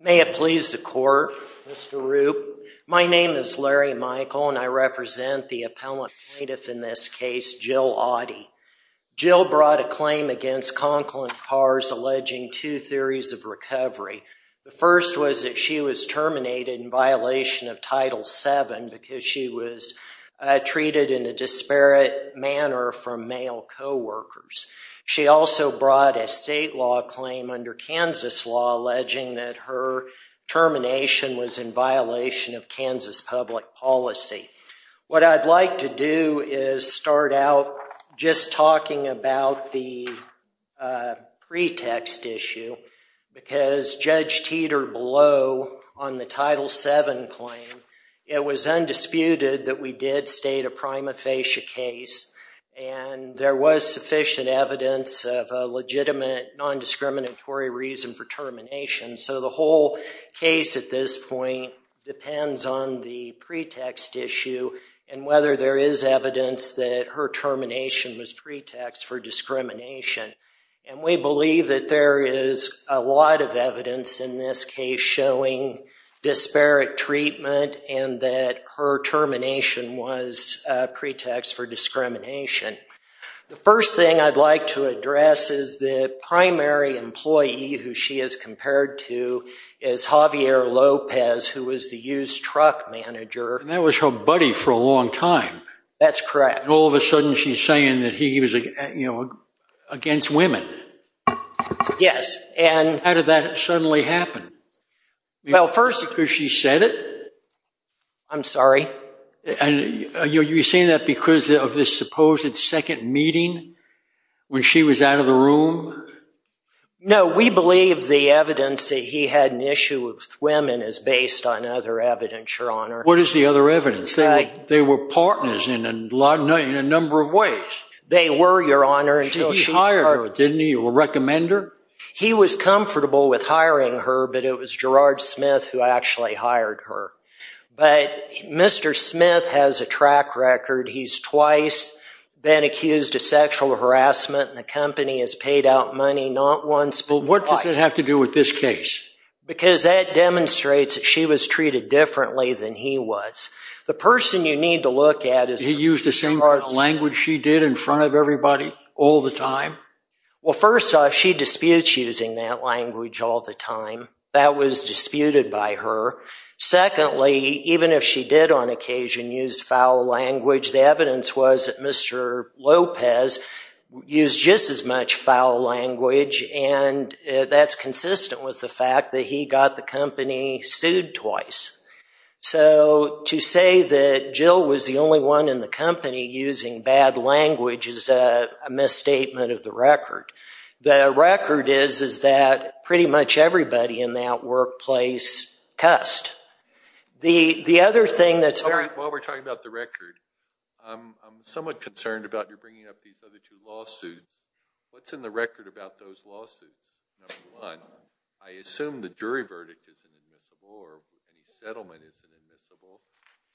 May it please the court, Mr. Rupp. My name is Larry Michael and I represent the appellant plaintiff in this case, Jill Audy. Jill brought a claim against Conklin Cars alleging two theories of recovery. The first was that she was terminated in violation of Title VII because she was treated in a disparate manner from male co-workers. She also brought a state law claim under Kansas law alleging that her termination was in violation of Kansas public policy. What I'd like to do is start out just talking about the pretext issue because Judge Teeter below on the Title VII claim, it was undisputed that we did state a prima facie case and there was sufficient evidence of a legitimate non-discriminatory reason for termination. The whole case at this point depends on the pretext issue and whether there is evidence that her termination was pretext for discrimination. We believe that there is a lot of evidence in this case showing disparate treatment and that her termination was pretext for discrimination. The first thing I'd like to address is the primary employee who she is compared to is Javier Lopez who was the used truck manager. And that was her buddy for a long time. That's correct. And all of a sudden she's saying that he was against women. Yes. How did that suddenly happen? Well first... Because she said it? I'm sorry. And you're saying that because of this supposed second meeting when she was out of the room? No, we believe the evidence that he had an issue with women is based on other evidence, Your Honor. What is the other evidence? They were partners in a number of ways. They were, Your Honor, until she started... He hired her, didn't he? Or recommend her? He was comfortable with hiring her, but it was Gerard Smith who actually hired her. But Mr. Smith has a track record. He's twice been accused of sexual harassment and the company has paid out money, not once but twice. Well what does that have to do with this case? Because that demonstrates that she was treated differently than he was. The person you need to look at is... He used the same language she did in front of everybody all the time? Well first off, she disputes using that language all the time. That was disputed by her. Secondly, even if she did on occasion use foul language, the evidence was that Mr. Lopez used just as much foul language and that's consistent with the fact that he got the company sued twice. So to say that Jill was the only one in the company using bad language is a misstatement of the record. The record is that pretty much everybody in that workplace cussed. The other thing that's very... While we're talking about the record, I'm somewhat concerned about your bringing up these other two lawsuits. What's in the record about those lawsuits? Number one, I assume the jury verdict isn't admissible or any settlement isn't admissible,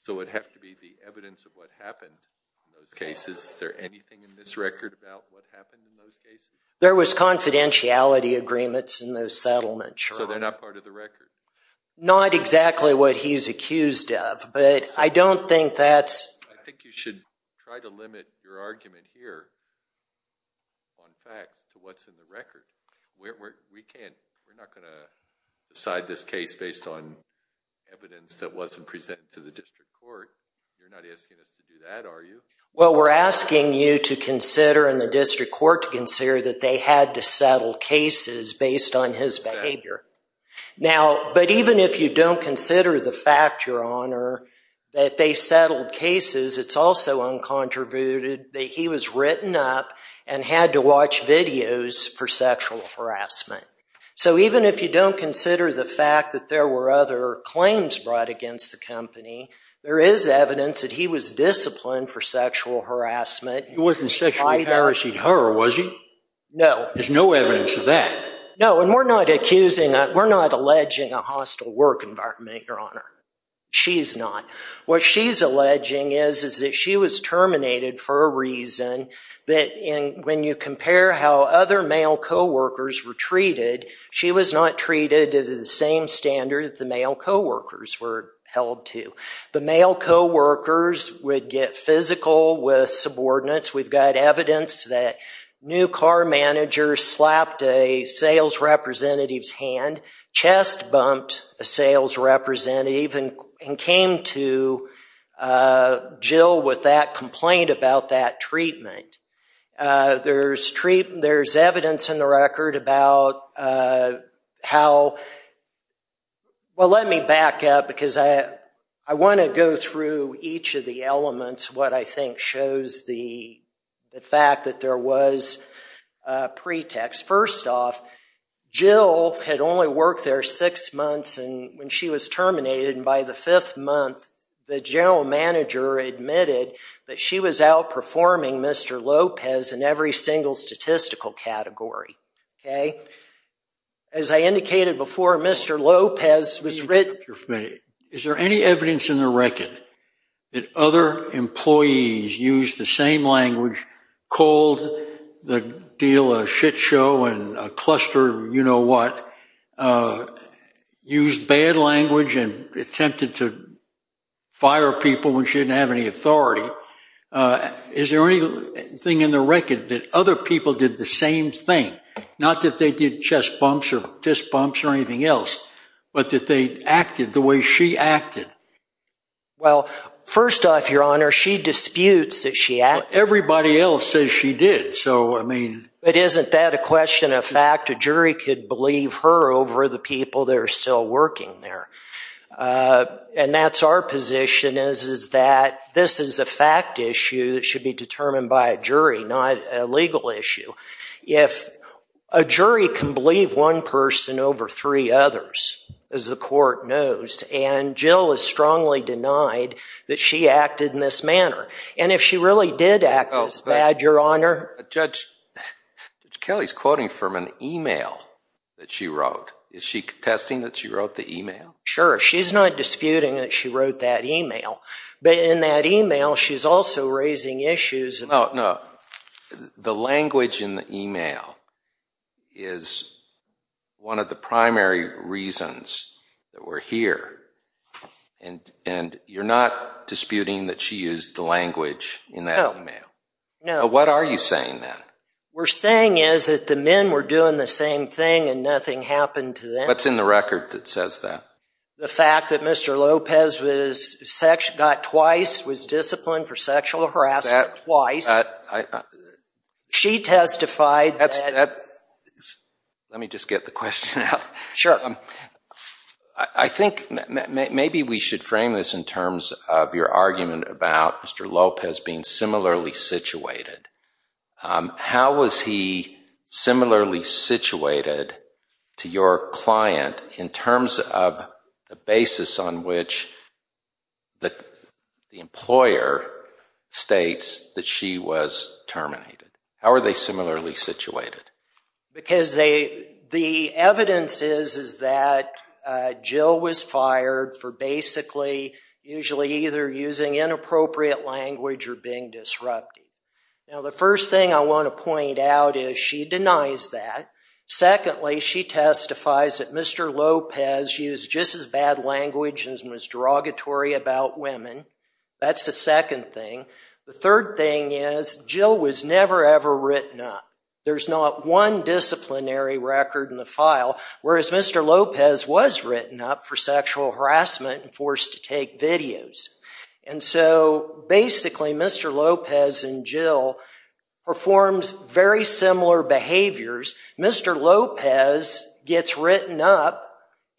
so it'd have to be the evidence of what happened in those cases. Is there anything in this record about what happened in those cases? There was confidentiality agreements in those settlements, Your Honor. So they're not part of the record? Not exactly what he's accused of, but I don't think that's... I think you should try to limit your argument here on facts to what's in the record. We can't... We're not going to decide this case based on evidence that wasn't presented to the district court. You're not asking us to do that, are you? Well, we're asking you to consider and the district court to consider that they had to settle cases based on his behavior. Now, but even if you don't consider the fact, Your Honor, that they settled cases, it's also uncontributed that he was written up and had to watch videos for sexual harassment. So even if you don't consider the fact that there were other claims brought against the harassment... He wasn't sexually harassing her, was he? No. There's no evidence of that. No, and we're not accusing... We're not alleging a hostile work environment, Your Honor. She's not. What she's alleging is that she was terminated for a reason that when you compare how other male co-workers were treated, she was not treated to the same standard that the male co-workers were held to. The male co-workers would get physical with subordinates. We've got evidence that new car managers slapped a sales representative's hand, chest bumped a sales representative, and came to Jill with that complaint about that treatment. There's evidence in the record about how... Well, let me back up because I want to go through each of the elements, what I think shows the fact that there was a pretext. First off, Jill had only worked there six months when she was terminated, and by the fifth month, the general manager admitted that she was outperforming Mr. Lopez in every single statistical category. Okay. As I indicated before, Mr. Lopez was written... Is there any evidence in the record that other employees used the same language, called the deal a shit show and a cluster you-know-what, used bad language, and attempted to fire people when she didn't have any authority? Is there anything in the record that other people did the same thing? Not that they did chest bumps or fist bumps or anything else, but that they acted the way she acted? Well, first off, Your Honor, she disputes that she acted... Everybody else says she did, so I mean... But isn't that a question of fact? A jury could believe her over the people that are still working there. And that's our position, is that this is a fact issue that should be determined by a jury, not a legal issue. If a jury can believe one person over three others, as the court knows, and Jill is strongly denied that she acted in this manner, and if she really did act this bad, Your Honor... Judge Kelly's quoting from an email that she wrote. Is she contesting that she wrote the email? Sure. She's not disputing that she wrote that email. But in that email, she's also raising issues... No, no. The language in the email is one of the primary reasons that we're here, and you're not disputing that she used the language in that email? No, no. What are you saying, then? We're saying is that the men were doing the same thing and nothing happened to them. What's in the record that says that? The fact that Mr. Lopez got twice, was disciplined for sexual harassment twice. She testified that... Let me just get the question out. Sure. I think maybe we should frame this in terms of your argument about Mr. Lopez being similarly situated. How was he similarly situated to your client in terms of the basis on which the employer states that she was terminated? How are they similarly situated? Because the evidence is that Jill was fired for basically, usually either using inappropriate language or being disruptive. Now, the first thing I want to point out is she denies that. Secondly, she testifies that Mr. Lopez used just as bad language and was derogatory about women. That's the second thing. The third thing is Jill was never, ever written up. There's not one disciplinary record in the file, whereas Mr. Lopez was written up for sexual harassment and forced to take videos. And so, basically, Mr. Lopez and Jill performed very similar behaviors. Mr. Lopez gets written up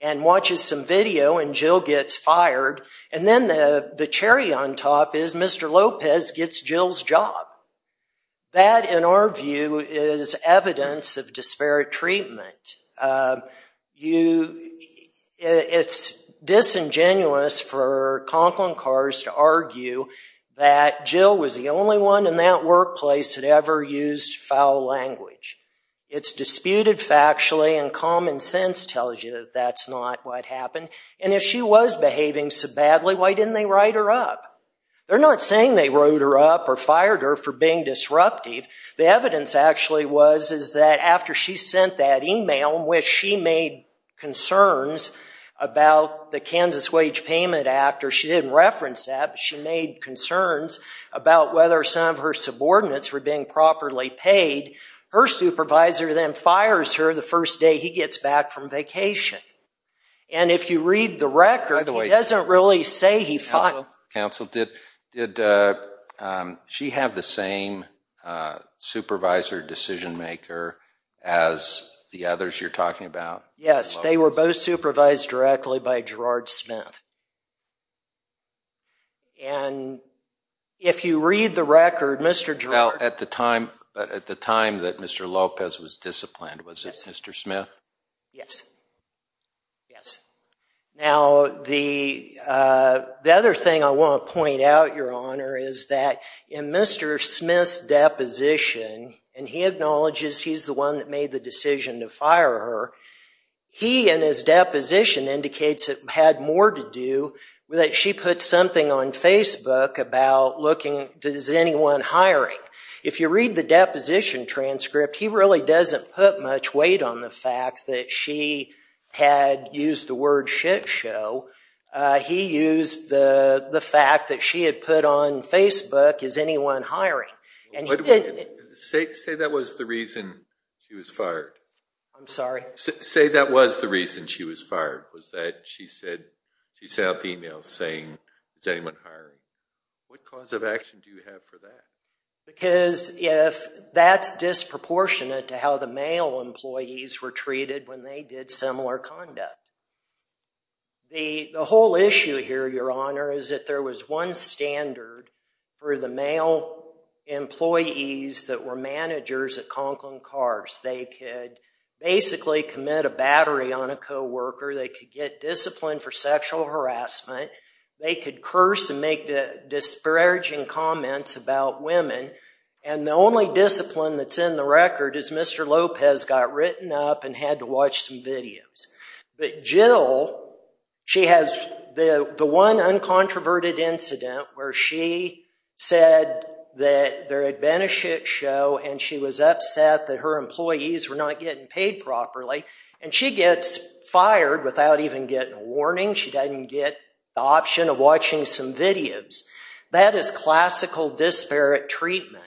and watches some video and Jill gets fired. And then the cherry on top is Mr. Lopez gets Jill's job. That, in our view, is evidence of disparate treatment. It's disingenuous for Conklin Cars to argue that Jill was the only one in that workplace that ever used foul language. It's disputed factually and common sense tells you that that's not what happened. And if she was behaving so badly, why didn't they write her up? They're not saying they wrote her up or fired her for being disruptive. The evidence, actually, was that after she sent that email in which she made concerns about the Kansas Wage Payment Act, or she didn't reference that, but she made concerns about whether some of her subordinates were being properly paid, her supervisor then fires her the first day he gets back from vacation. And if you read the record, he doesn't really say he fired her. Counsel, did she have the same supervisor decision-maker as the others you're talking about? Yes, they were both supervised directly by Gerard Smith. And if you read the record, Mr. Gerard— Well, at the time that Mr. Lopez was disciplined, was it Mr. Smith? Yes. Yes. Now, the other thing I want to point out, Your Honor, is that in Mr. Smith's deposition, and he acknowledges he's the one that made the decision to fire her, he, in his deposition, indicates it had more to do with that she put something on Facebook about looking, does anyone hiring? If you read the deposition transcript, he really doesn't put much weight on the fact that she had used the word shitshow. He used the fact that she had put on Facebook, is anyone hiring? And he didn't— Say that was the reason she was fired. I'm sorry? Say that was the reason she was fired, was that she sent out the email saying, is anyone hiring? What cause of action do you have for that? Because if that's disproportionate to how the male employees were treated when they did similar conduct, the whole issue here, Your Honor, is that there was one standard for the male employees that were managers at Conklin Cars. They could basically commit a battery on a co-worker. They could get disciplined for sexual harassment. They could curse and make disparaging comments about women. And the only discipline that's in the record is Mr. Lopez got written up and had to watch some videos. But Jill, she has the one uncontroverted incident where she said that there had been a shitshow and she was upset that her employees were not getting paid properly. And she gets fired without even getting a warning. She doesn't get the option of watching some videos. That is classical disparate treatment.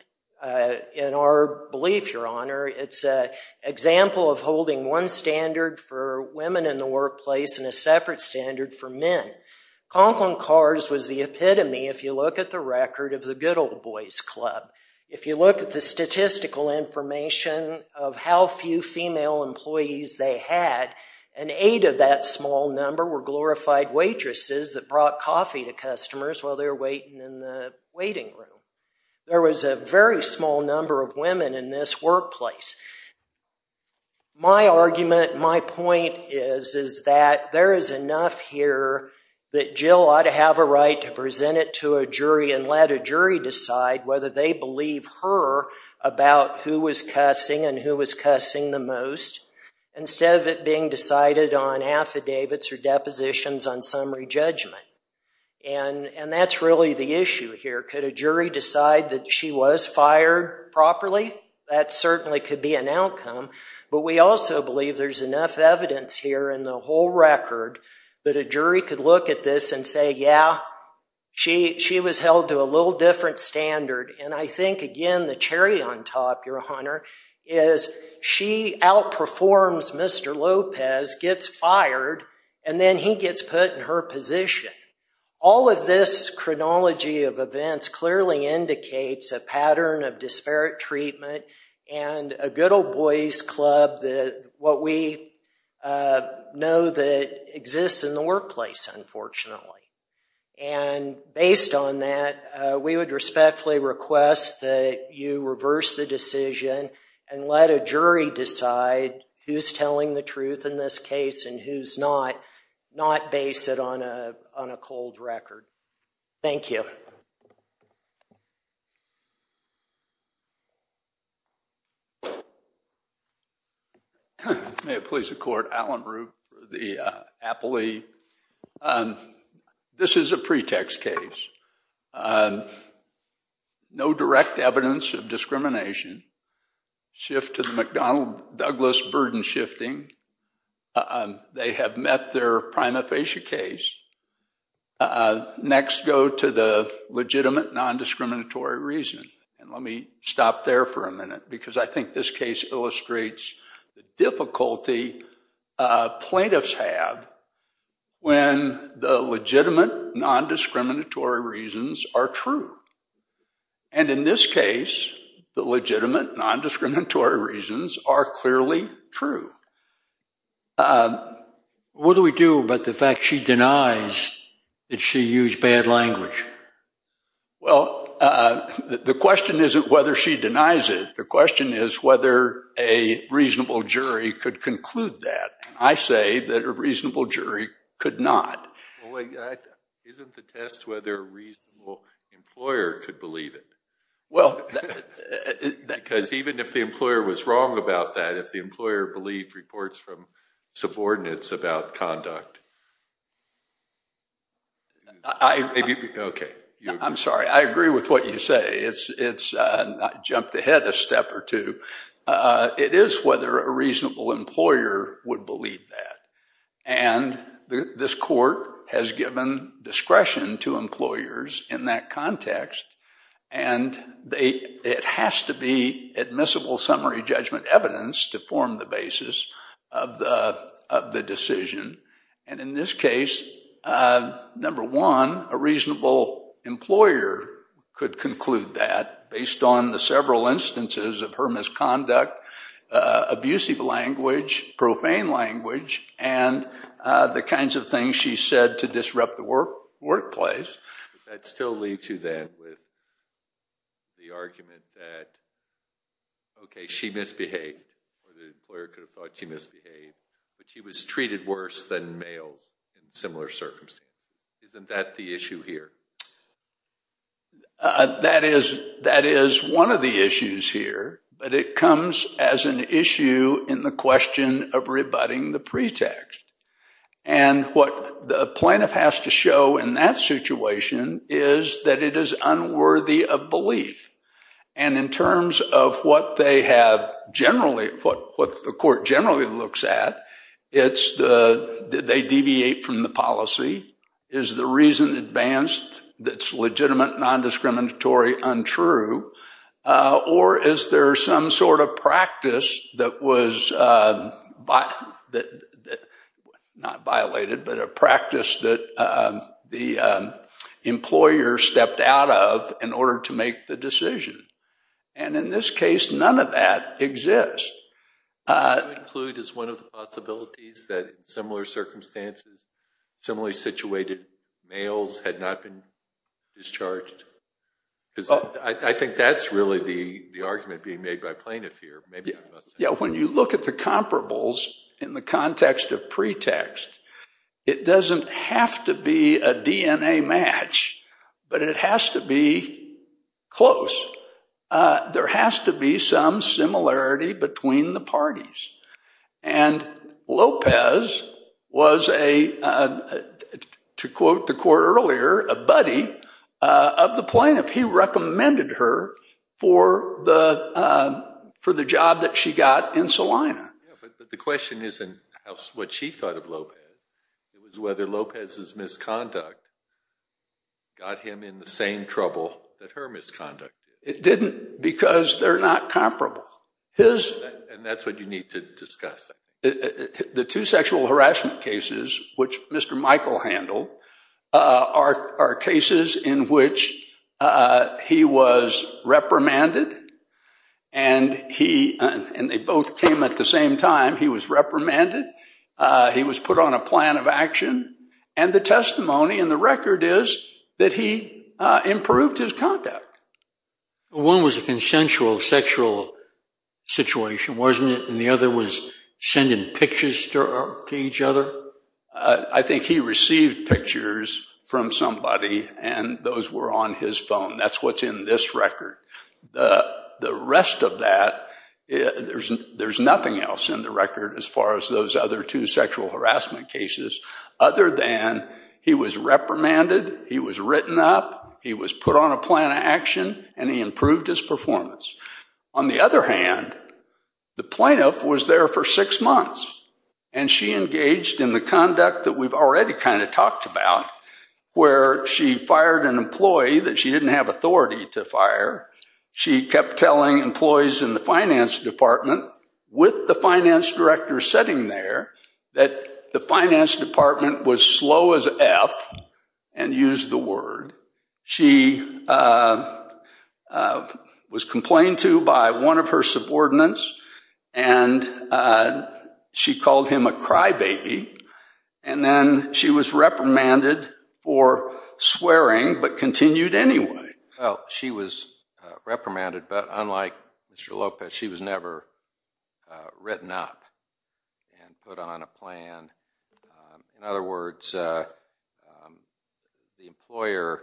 In our belief, Your Honor, it's an example of holding one standard for women in the workplace and a separate standard for men. Conklin Cars was the epitome, if you look at the record, of the good old boys club. If you look at the statistical information of how few female employees they had, and of that small number were glorified waitresses that brought coffee to customers while they were waiting in the waiting room. There was a very small number of women in this workplace. My argument, my point is that there is enough here that Jill ought to have a right to present it to a jury and let a jury decide whether they believe her about who was cussing and who was cussing the most. Instead of it being decided on affidavits or depositions on summary judgment. And that's really the issue here. Could a jury decide that she was fired properly? That certainly could be an outcome. But we also believe there's enough evidence here in the whole record that a jury could look at this and say, yeah, she was held to a little different standard. I think, again, the cherry on top, your honor, is she outperforms Mr. Lopez, gets fired, and then he gets put in her position. All of this chronology of events clearly indicates a pattern of disparate treatment and a good old boys club, what we know that exists in the workplace, unfortunately. And based on that, we would respectfully request that you reverse the decision and let a jury decide who's telling the truth in this case and who's not, not base it on a cold record. Thank you. May it please the court. Alan Rupp, the appellee. This is a pretext case. No direct evidence of discrimination. Shift to the McDonnell-Douglas burden shifting. They have met their prima facie case. Next, go to the legitimate non-discriminatory reason. And let me stop there for a minute, because I think this case illustrates the difficulty plaintiffs have when the legitimate non-discriminatory reasons are true. And in this case, the legitimate non-discriminatory reasons are clearly true. What do we do about the fact she denies that she used bad language? Well, the question isn't whether she denies it. The question is whether a reasonable jury could conclude that. I say that a reasonable jury could not. Well, isn't the test whether a reasonable employer could believe it? Well, that's... Because even if the employer was wrong about that, if the employer believed it, it would change reports from subordinates about conduct. I... If you... Okay. I'm sorry. I agree with what you say. It's not jumped ahead a step or two. It is whether a reasonable employer would believe that. And this court has given discretion to employers in that context. And they... It has to be admissible summary judgment evidence to form the basis of the decision. And in this case, number one, a reasonable employer could conclude that based on the several instances of her misconduct, abusive language, profane language, and the kinds of things she said to disrupt the workplace. That still leads you then with the argument that, okay, she misbehaved or the employer could have thought she misbehaved, but she was treated worse than males in similar circumstances. Isn't that the issue here? That is one of the issues here, but it comes as an issue in the question of rebutting the pretext. And what the plaintiff has to show in that situation is that it is unworthy of belief. And in terms of what they have generally, what the court generally looks at, it's the... They deviate from the policy. Is the reason advanced that's legitimate, non-discriminatory, untrue? Or is there some sort of practice that was... not violated, but a practice that the employer stepped out of in order to make the decision? And in this case, none of that exists. What you include is one of the possibilities that in similar circumstances, similarly situated males had not been discharged. I think that's really the argument being made by plaintiff here. Yeah, when you look at the comparables in the context of pretext, it doesn't have to be a DNA match, but it has to be close. There has to be some similarity between the parties. And Lopez was a, to quote the court earlier, a buddy of the plaintiff. He recommended her for the job that she got in Salina. But the question isn't what she thought of Lopez. It was whether Lopez's misconduct got him in the same trouble that her misconduct. It didn't because they're not comparable. And that's what you need to discuss. The two sexual harassment cases, which Mr. Michael handled, are cases in which he was reprimanded and they both came at the same time. He was reprimanded. He was put on a plan of action. And the testimony in the record is that he improved his conduct. One was a consensual sexual situation, wasn't it? And the other was sending pictures to each other. I think he received pictures from somebody and those were on his phone. That's what's in this record. The rest of that, there's nothing else in the record as far as those other two sexual harassment cases other than he was reprimanded, he was written up, he was put on a plan of action, and he improved his performance. On the other hand, the plaintiff was there for six months and she engaged in the conduct that we've already kind of talked about where she fired an employee that she didn't have authority to fire she kept telling employees in the finance department with the finance director sitting there that the finance department was slow as F and used the word. She was complained to by one of her subordinates and she called him a crybaby and then she was reprimanded for swearing but continued anyway. Well, she was reprimanded but unlike Mr. Lopez, she was never written up and put on a plan. In other words, the employer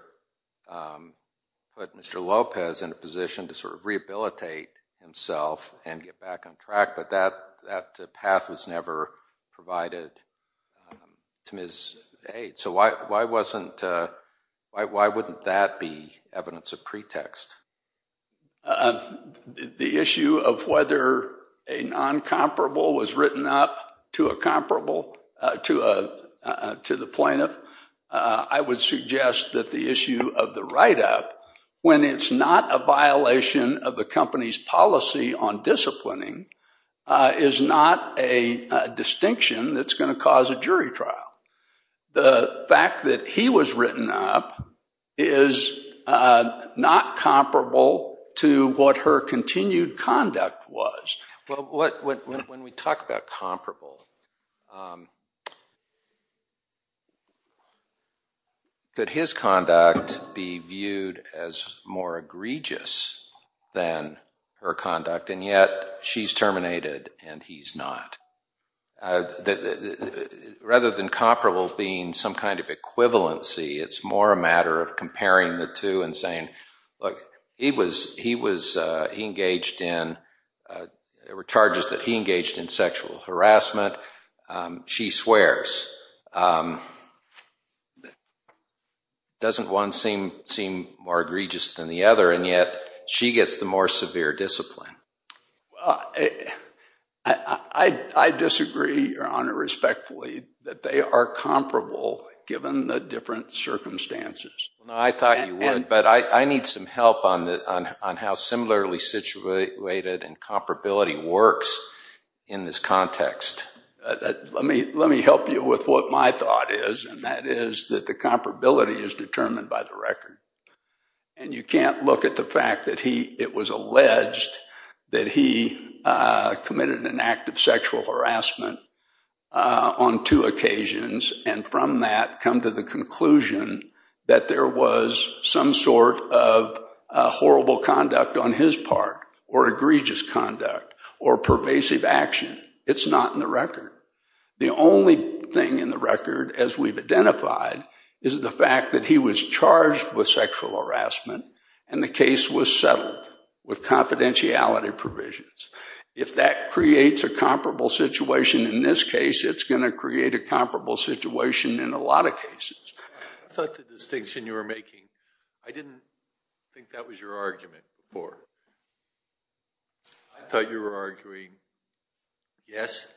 put Mr. Lopez in a position to sort of rehabilitate himself and get back on track but that path was never provided to Ms. H. So why wouldn't that be evidence of pretext? The issue of whether a non-comparable was written up to a comparable to the plaintiff, I would suggest that the issue of the write-up when it's not a violation of the company's policy on disciplining is not a distinction that's going to cause a jury trial. The fact that he was written up is not comparable to what her continued conduct was. Well, when we talk about comparable, could his conduct be viewed as more egregious than her conduct and yet she's terminated and he's not? Rather than comparable being some kind of equivalency, it's more a matter of comparing the two and saying, look, there were charges that he engaged in sexual harassment, she swears. Doesn't one seem more egregious than the other and yet she gets the more severe discipline? Well, I disagree, Your Honor, respectfully, that they are comparable given the different circumstances. I thought you would, but I need some help on how similarly situated and comparability works in this context. Let me help you with what my thought is and that is that the comparability is determined by the record and you can't look at the fact it was alleged that he committed an act of sexual harassment on two occasions and from that come to the conclusion that there was some sort of horrible conduct on his part or egregious conduct or pervasive action. It's not in the record. The only thing in the record, as we've identified, is the fact that he was charged with sexual harassment and the case was settled with confidentiality provisions. If that creates a comparable situation in this case, it's going to create a comparable situation in a lot of cases. I thought the distinction you were making, I didn't think that was your argument before. I thought you were arguing, yes,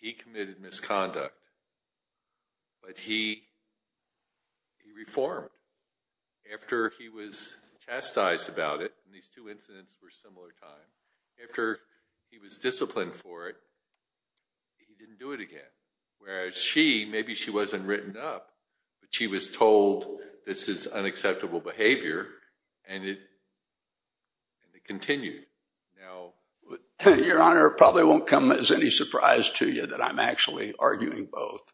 he committed misconduct, but he reformed after he was chastised about it and these two incidents were similar times. After he was disciplined for it, he didn't do it again. Whereas she, maybe she wasn't written up, but she was told this is unacceptable behavior and it continued. Your Honor, it probably won't come as any surprise to you that I'm actually arguing both.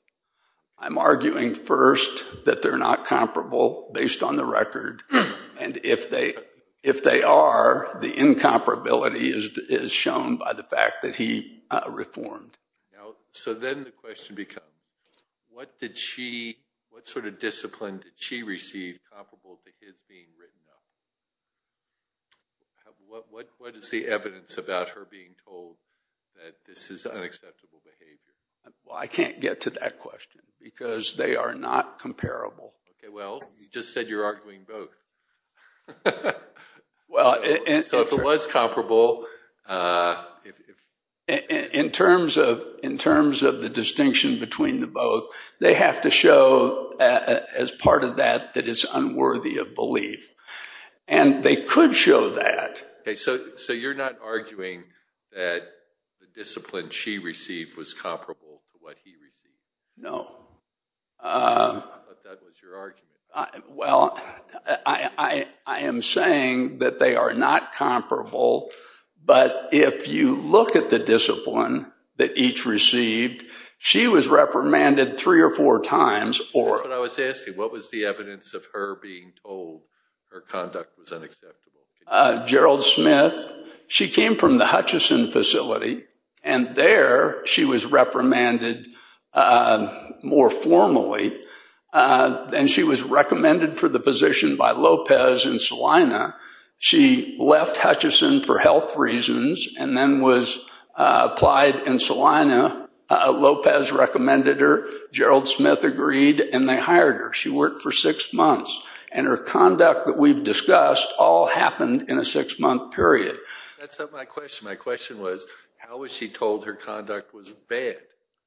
I'm arguing first that they're not comparable based on the record and if they are, the incomparability is shown by the fact that he reformed. So then the question becomes, what sort of discipline did she receive comparable to his being written up? What is the evidence about her being told that this is unacceptable behavior? Well, I can't get to that question because they are not comparable. Okay, well, you just said you're arguing both. So if it was comparable... In terms of the distinction between the both, they have to show as part of that, that it's unworthy of belief and they could show that. So you're not arguing that the discipline she received was comparable to what he received? No. I thought that was your argument. Well, I am saying that they are not comparable, but if you look at the discipline that each received, she was reprimanded three or four times or... That's what I was asking. What was the evidence of her being told her conduct was unacceptable? Gerald Smith, she came from the Hutchison facility and there she was reprimanded more formally and she was recommended for the position by Lopez and Celina. She left Hutchison for health reasons and then was applied in Celina. Lopez recommended her, Gerald Smith agreed, and they hired her. She worked for six months and her conduct that we've discussed all happened in a six month period. That's not my question. My question was, how was she told her conduct was bad?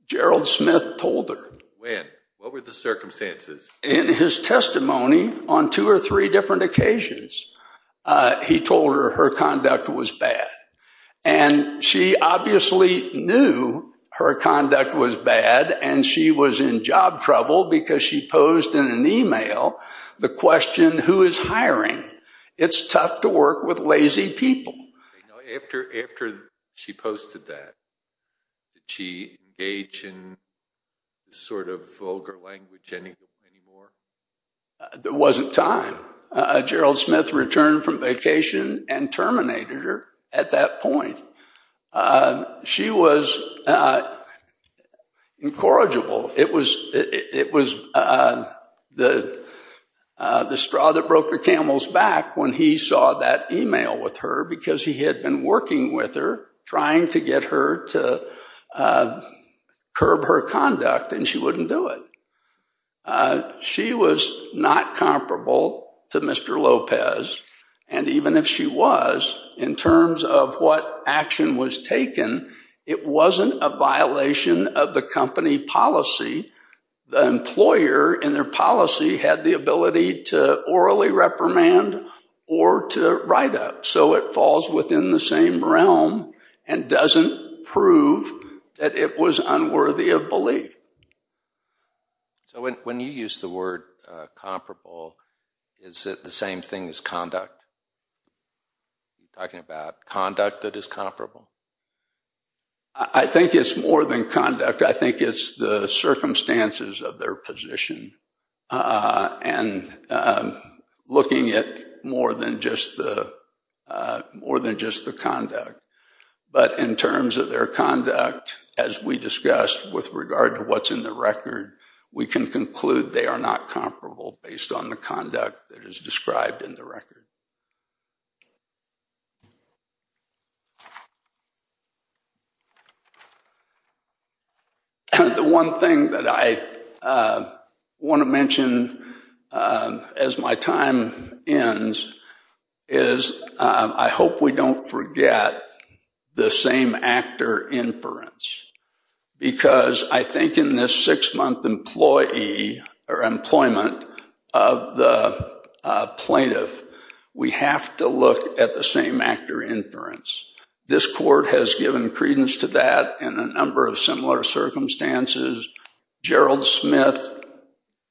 Gerald Smith told her. When? What were the circumstances? In his testimony on two or three different occasions, he told her her conduct was bad and she obviously knew her conduct was bad and she was in job trouble because she posed in an email the question, who is hiring? It's tough to work with lazy people. After she posted that, did she engage in sort of vulgar language anymore? There wasn't time. Gerald Smith returned from vacation and terminated her at that point. She was incorrigible. It was the straw that broke the camel's back when he saw that email with her because he had been working with her trying to get her to curb her conduct and she wouldn't do it. She was not comparable to Mr. Lopez and even if she was, in terms of what action was taken, it wasn't a violation of the company policy. The employer in their policy had the ability to orally reprimand or to write up so it falls within the same realm and doesn't prove that it was unworthy of belief. So when you use the word comparable, is it the same thing as conduct? Are you talking about conduct that is comparable? I think it's more than conduct. I think it's the circumstances of their position and looking at more than just the conduct. But in terms of their conduct, as we discussed with regard to what's in the record, we can conclude they are not comparable based on the conduct that is described in the record. The one thing that I want to mention as my time ends is I hope we don't forget the same actor inference because I think in this six-month employee or employment of the plaintiff, we have to look at the same actor inference. This court has given credence to that in a number of similar circumstances. Gerald Smith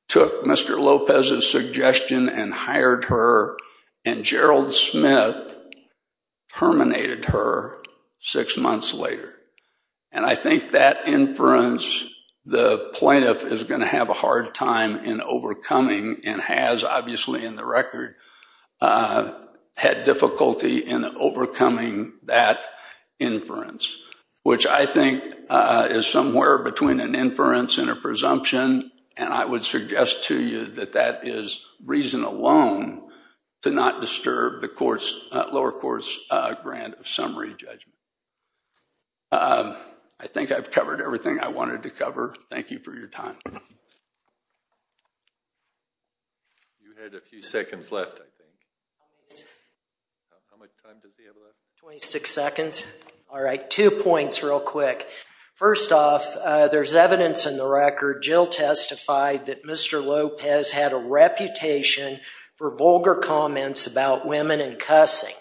took Mr. Lopez's suggestion and hired her and Gerald Smith terminated her six months later. And I think that inference, the plaintiff is going to have a hard time in overcoming and has obviously in the record had difficulty in overcoming that inference, which I think is somewhere between an inference and a presumption. And I would suggest to you that that is reason alone to not disturb the lower court's grant of summary judgment. I think I've covered everything I wanted to cover. Thank you for your time. You had a few seconds left, I think. How much time does he have left? 26 seconds. All right, two points real quick. First off, there's evidence in the record, Jill testified that Mr. Lopez had a reputation for vulgar comments about women and cussing.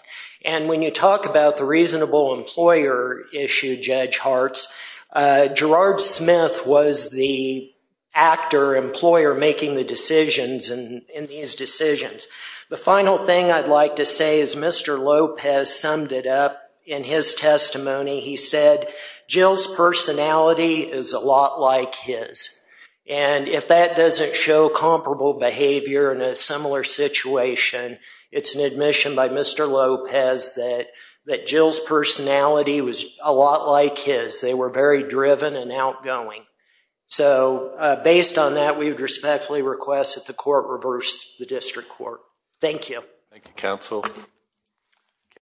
And when you talk about the reasonable employer issue, Judge Hartz, Gerard Smith was the actor employer making the decisions in these decisions. The final thing I'd like to say is Mr. Lopez summed it up in his testimony. He said, Jill's personality is a lot like his. And if that doesn't show comparable behavior in a similar situation, it's an admission by Mr. Lopez that Jill's personality was a lot like his. They were very driven and outgoing. So based on that, we would respectfully request that the court reverse the district court. Thank you. Thank you, counsel.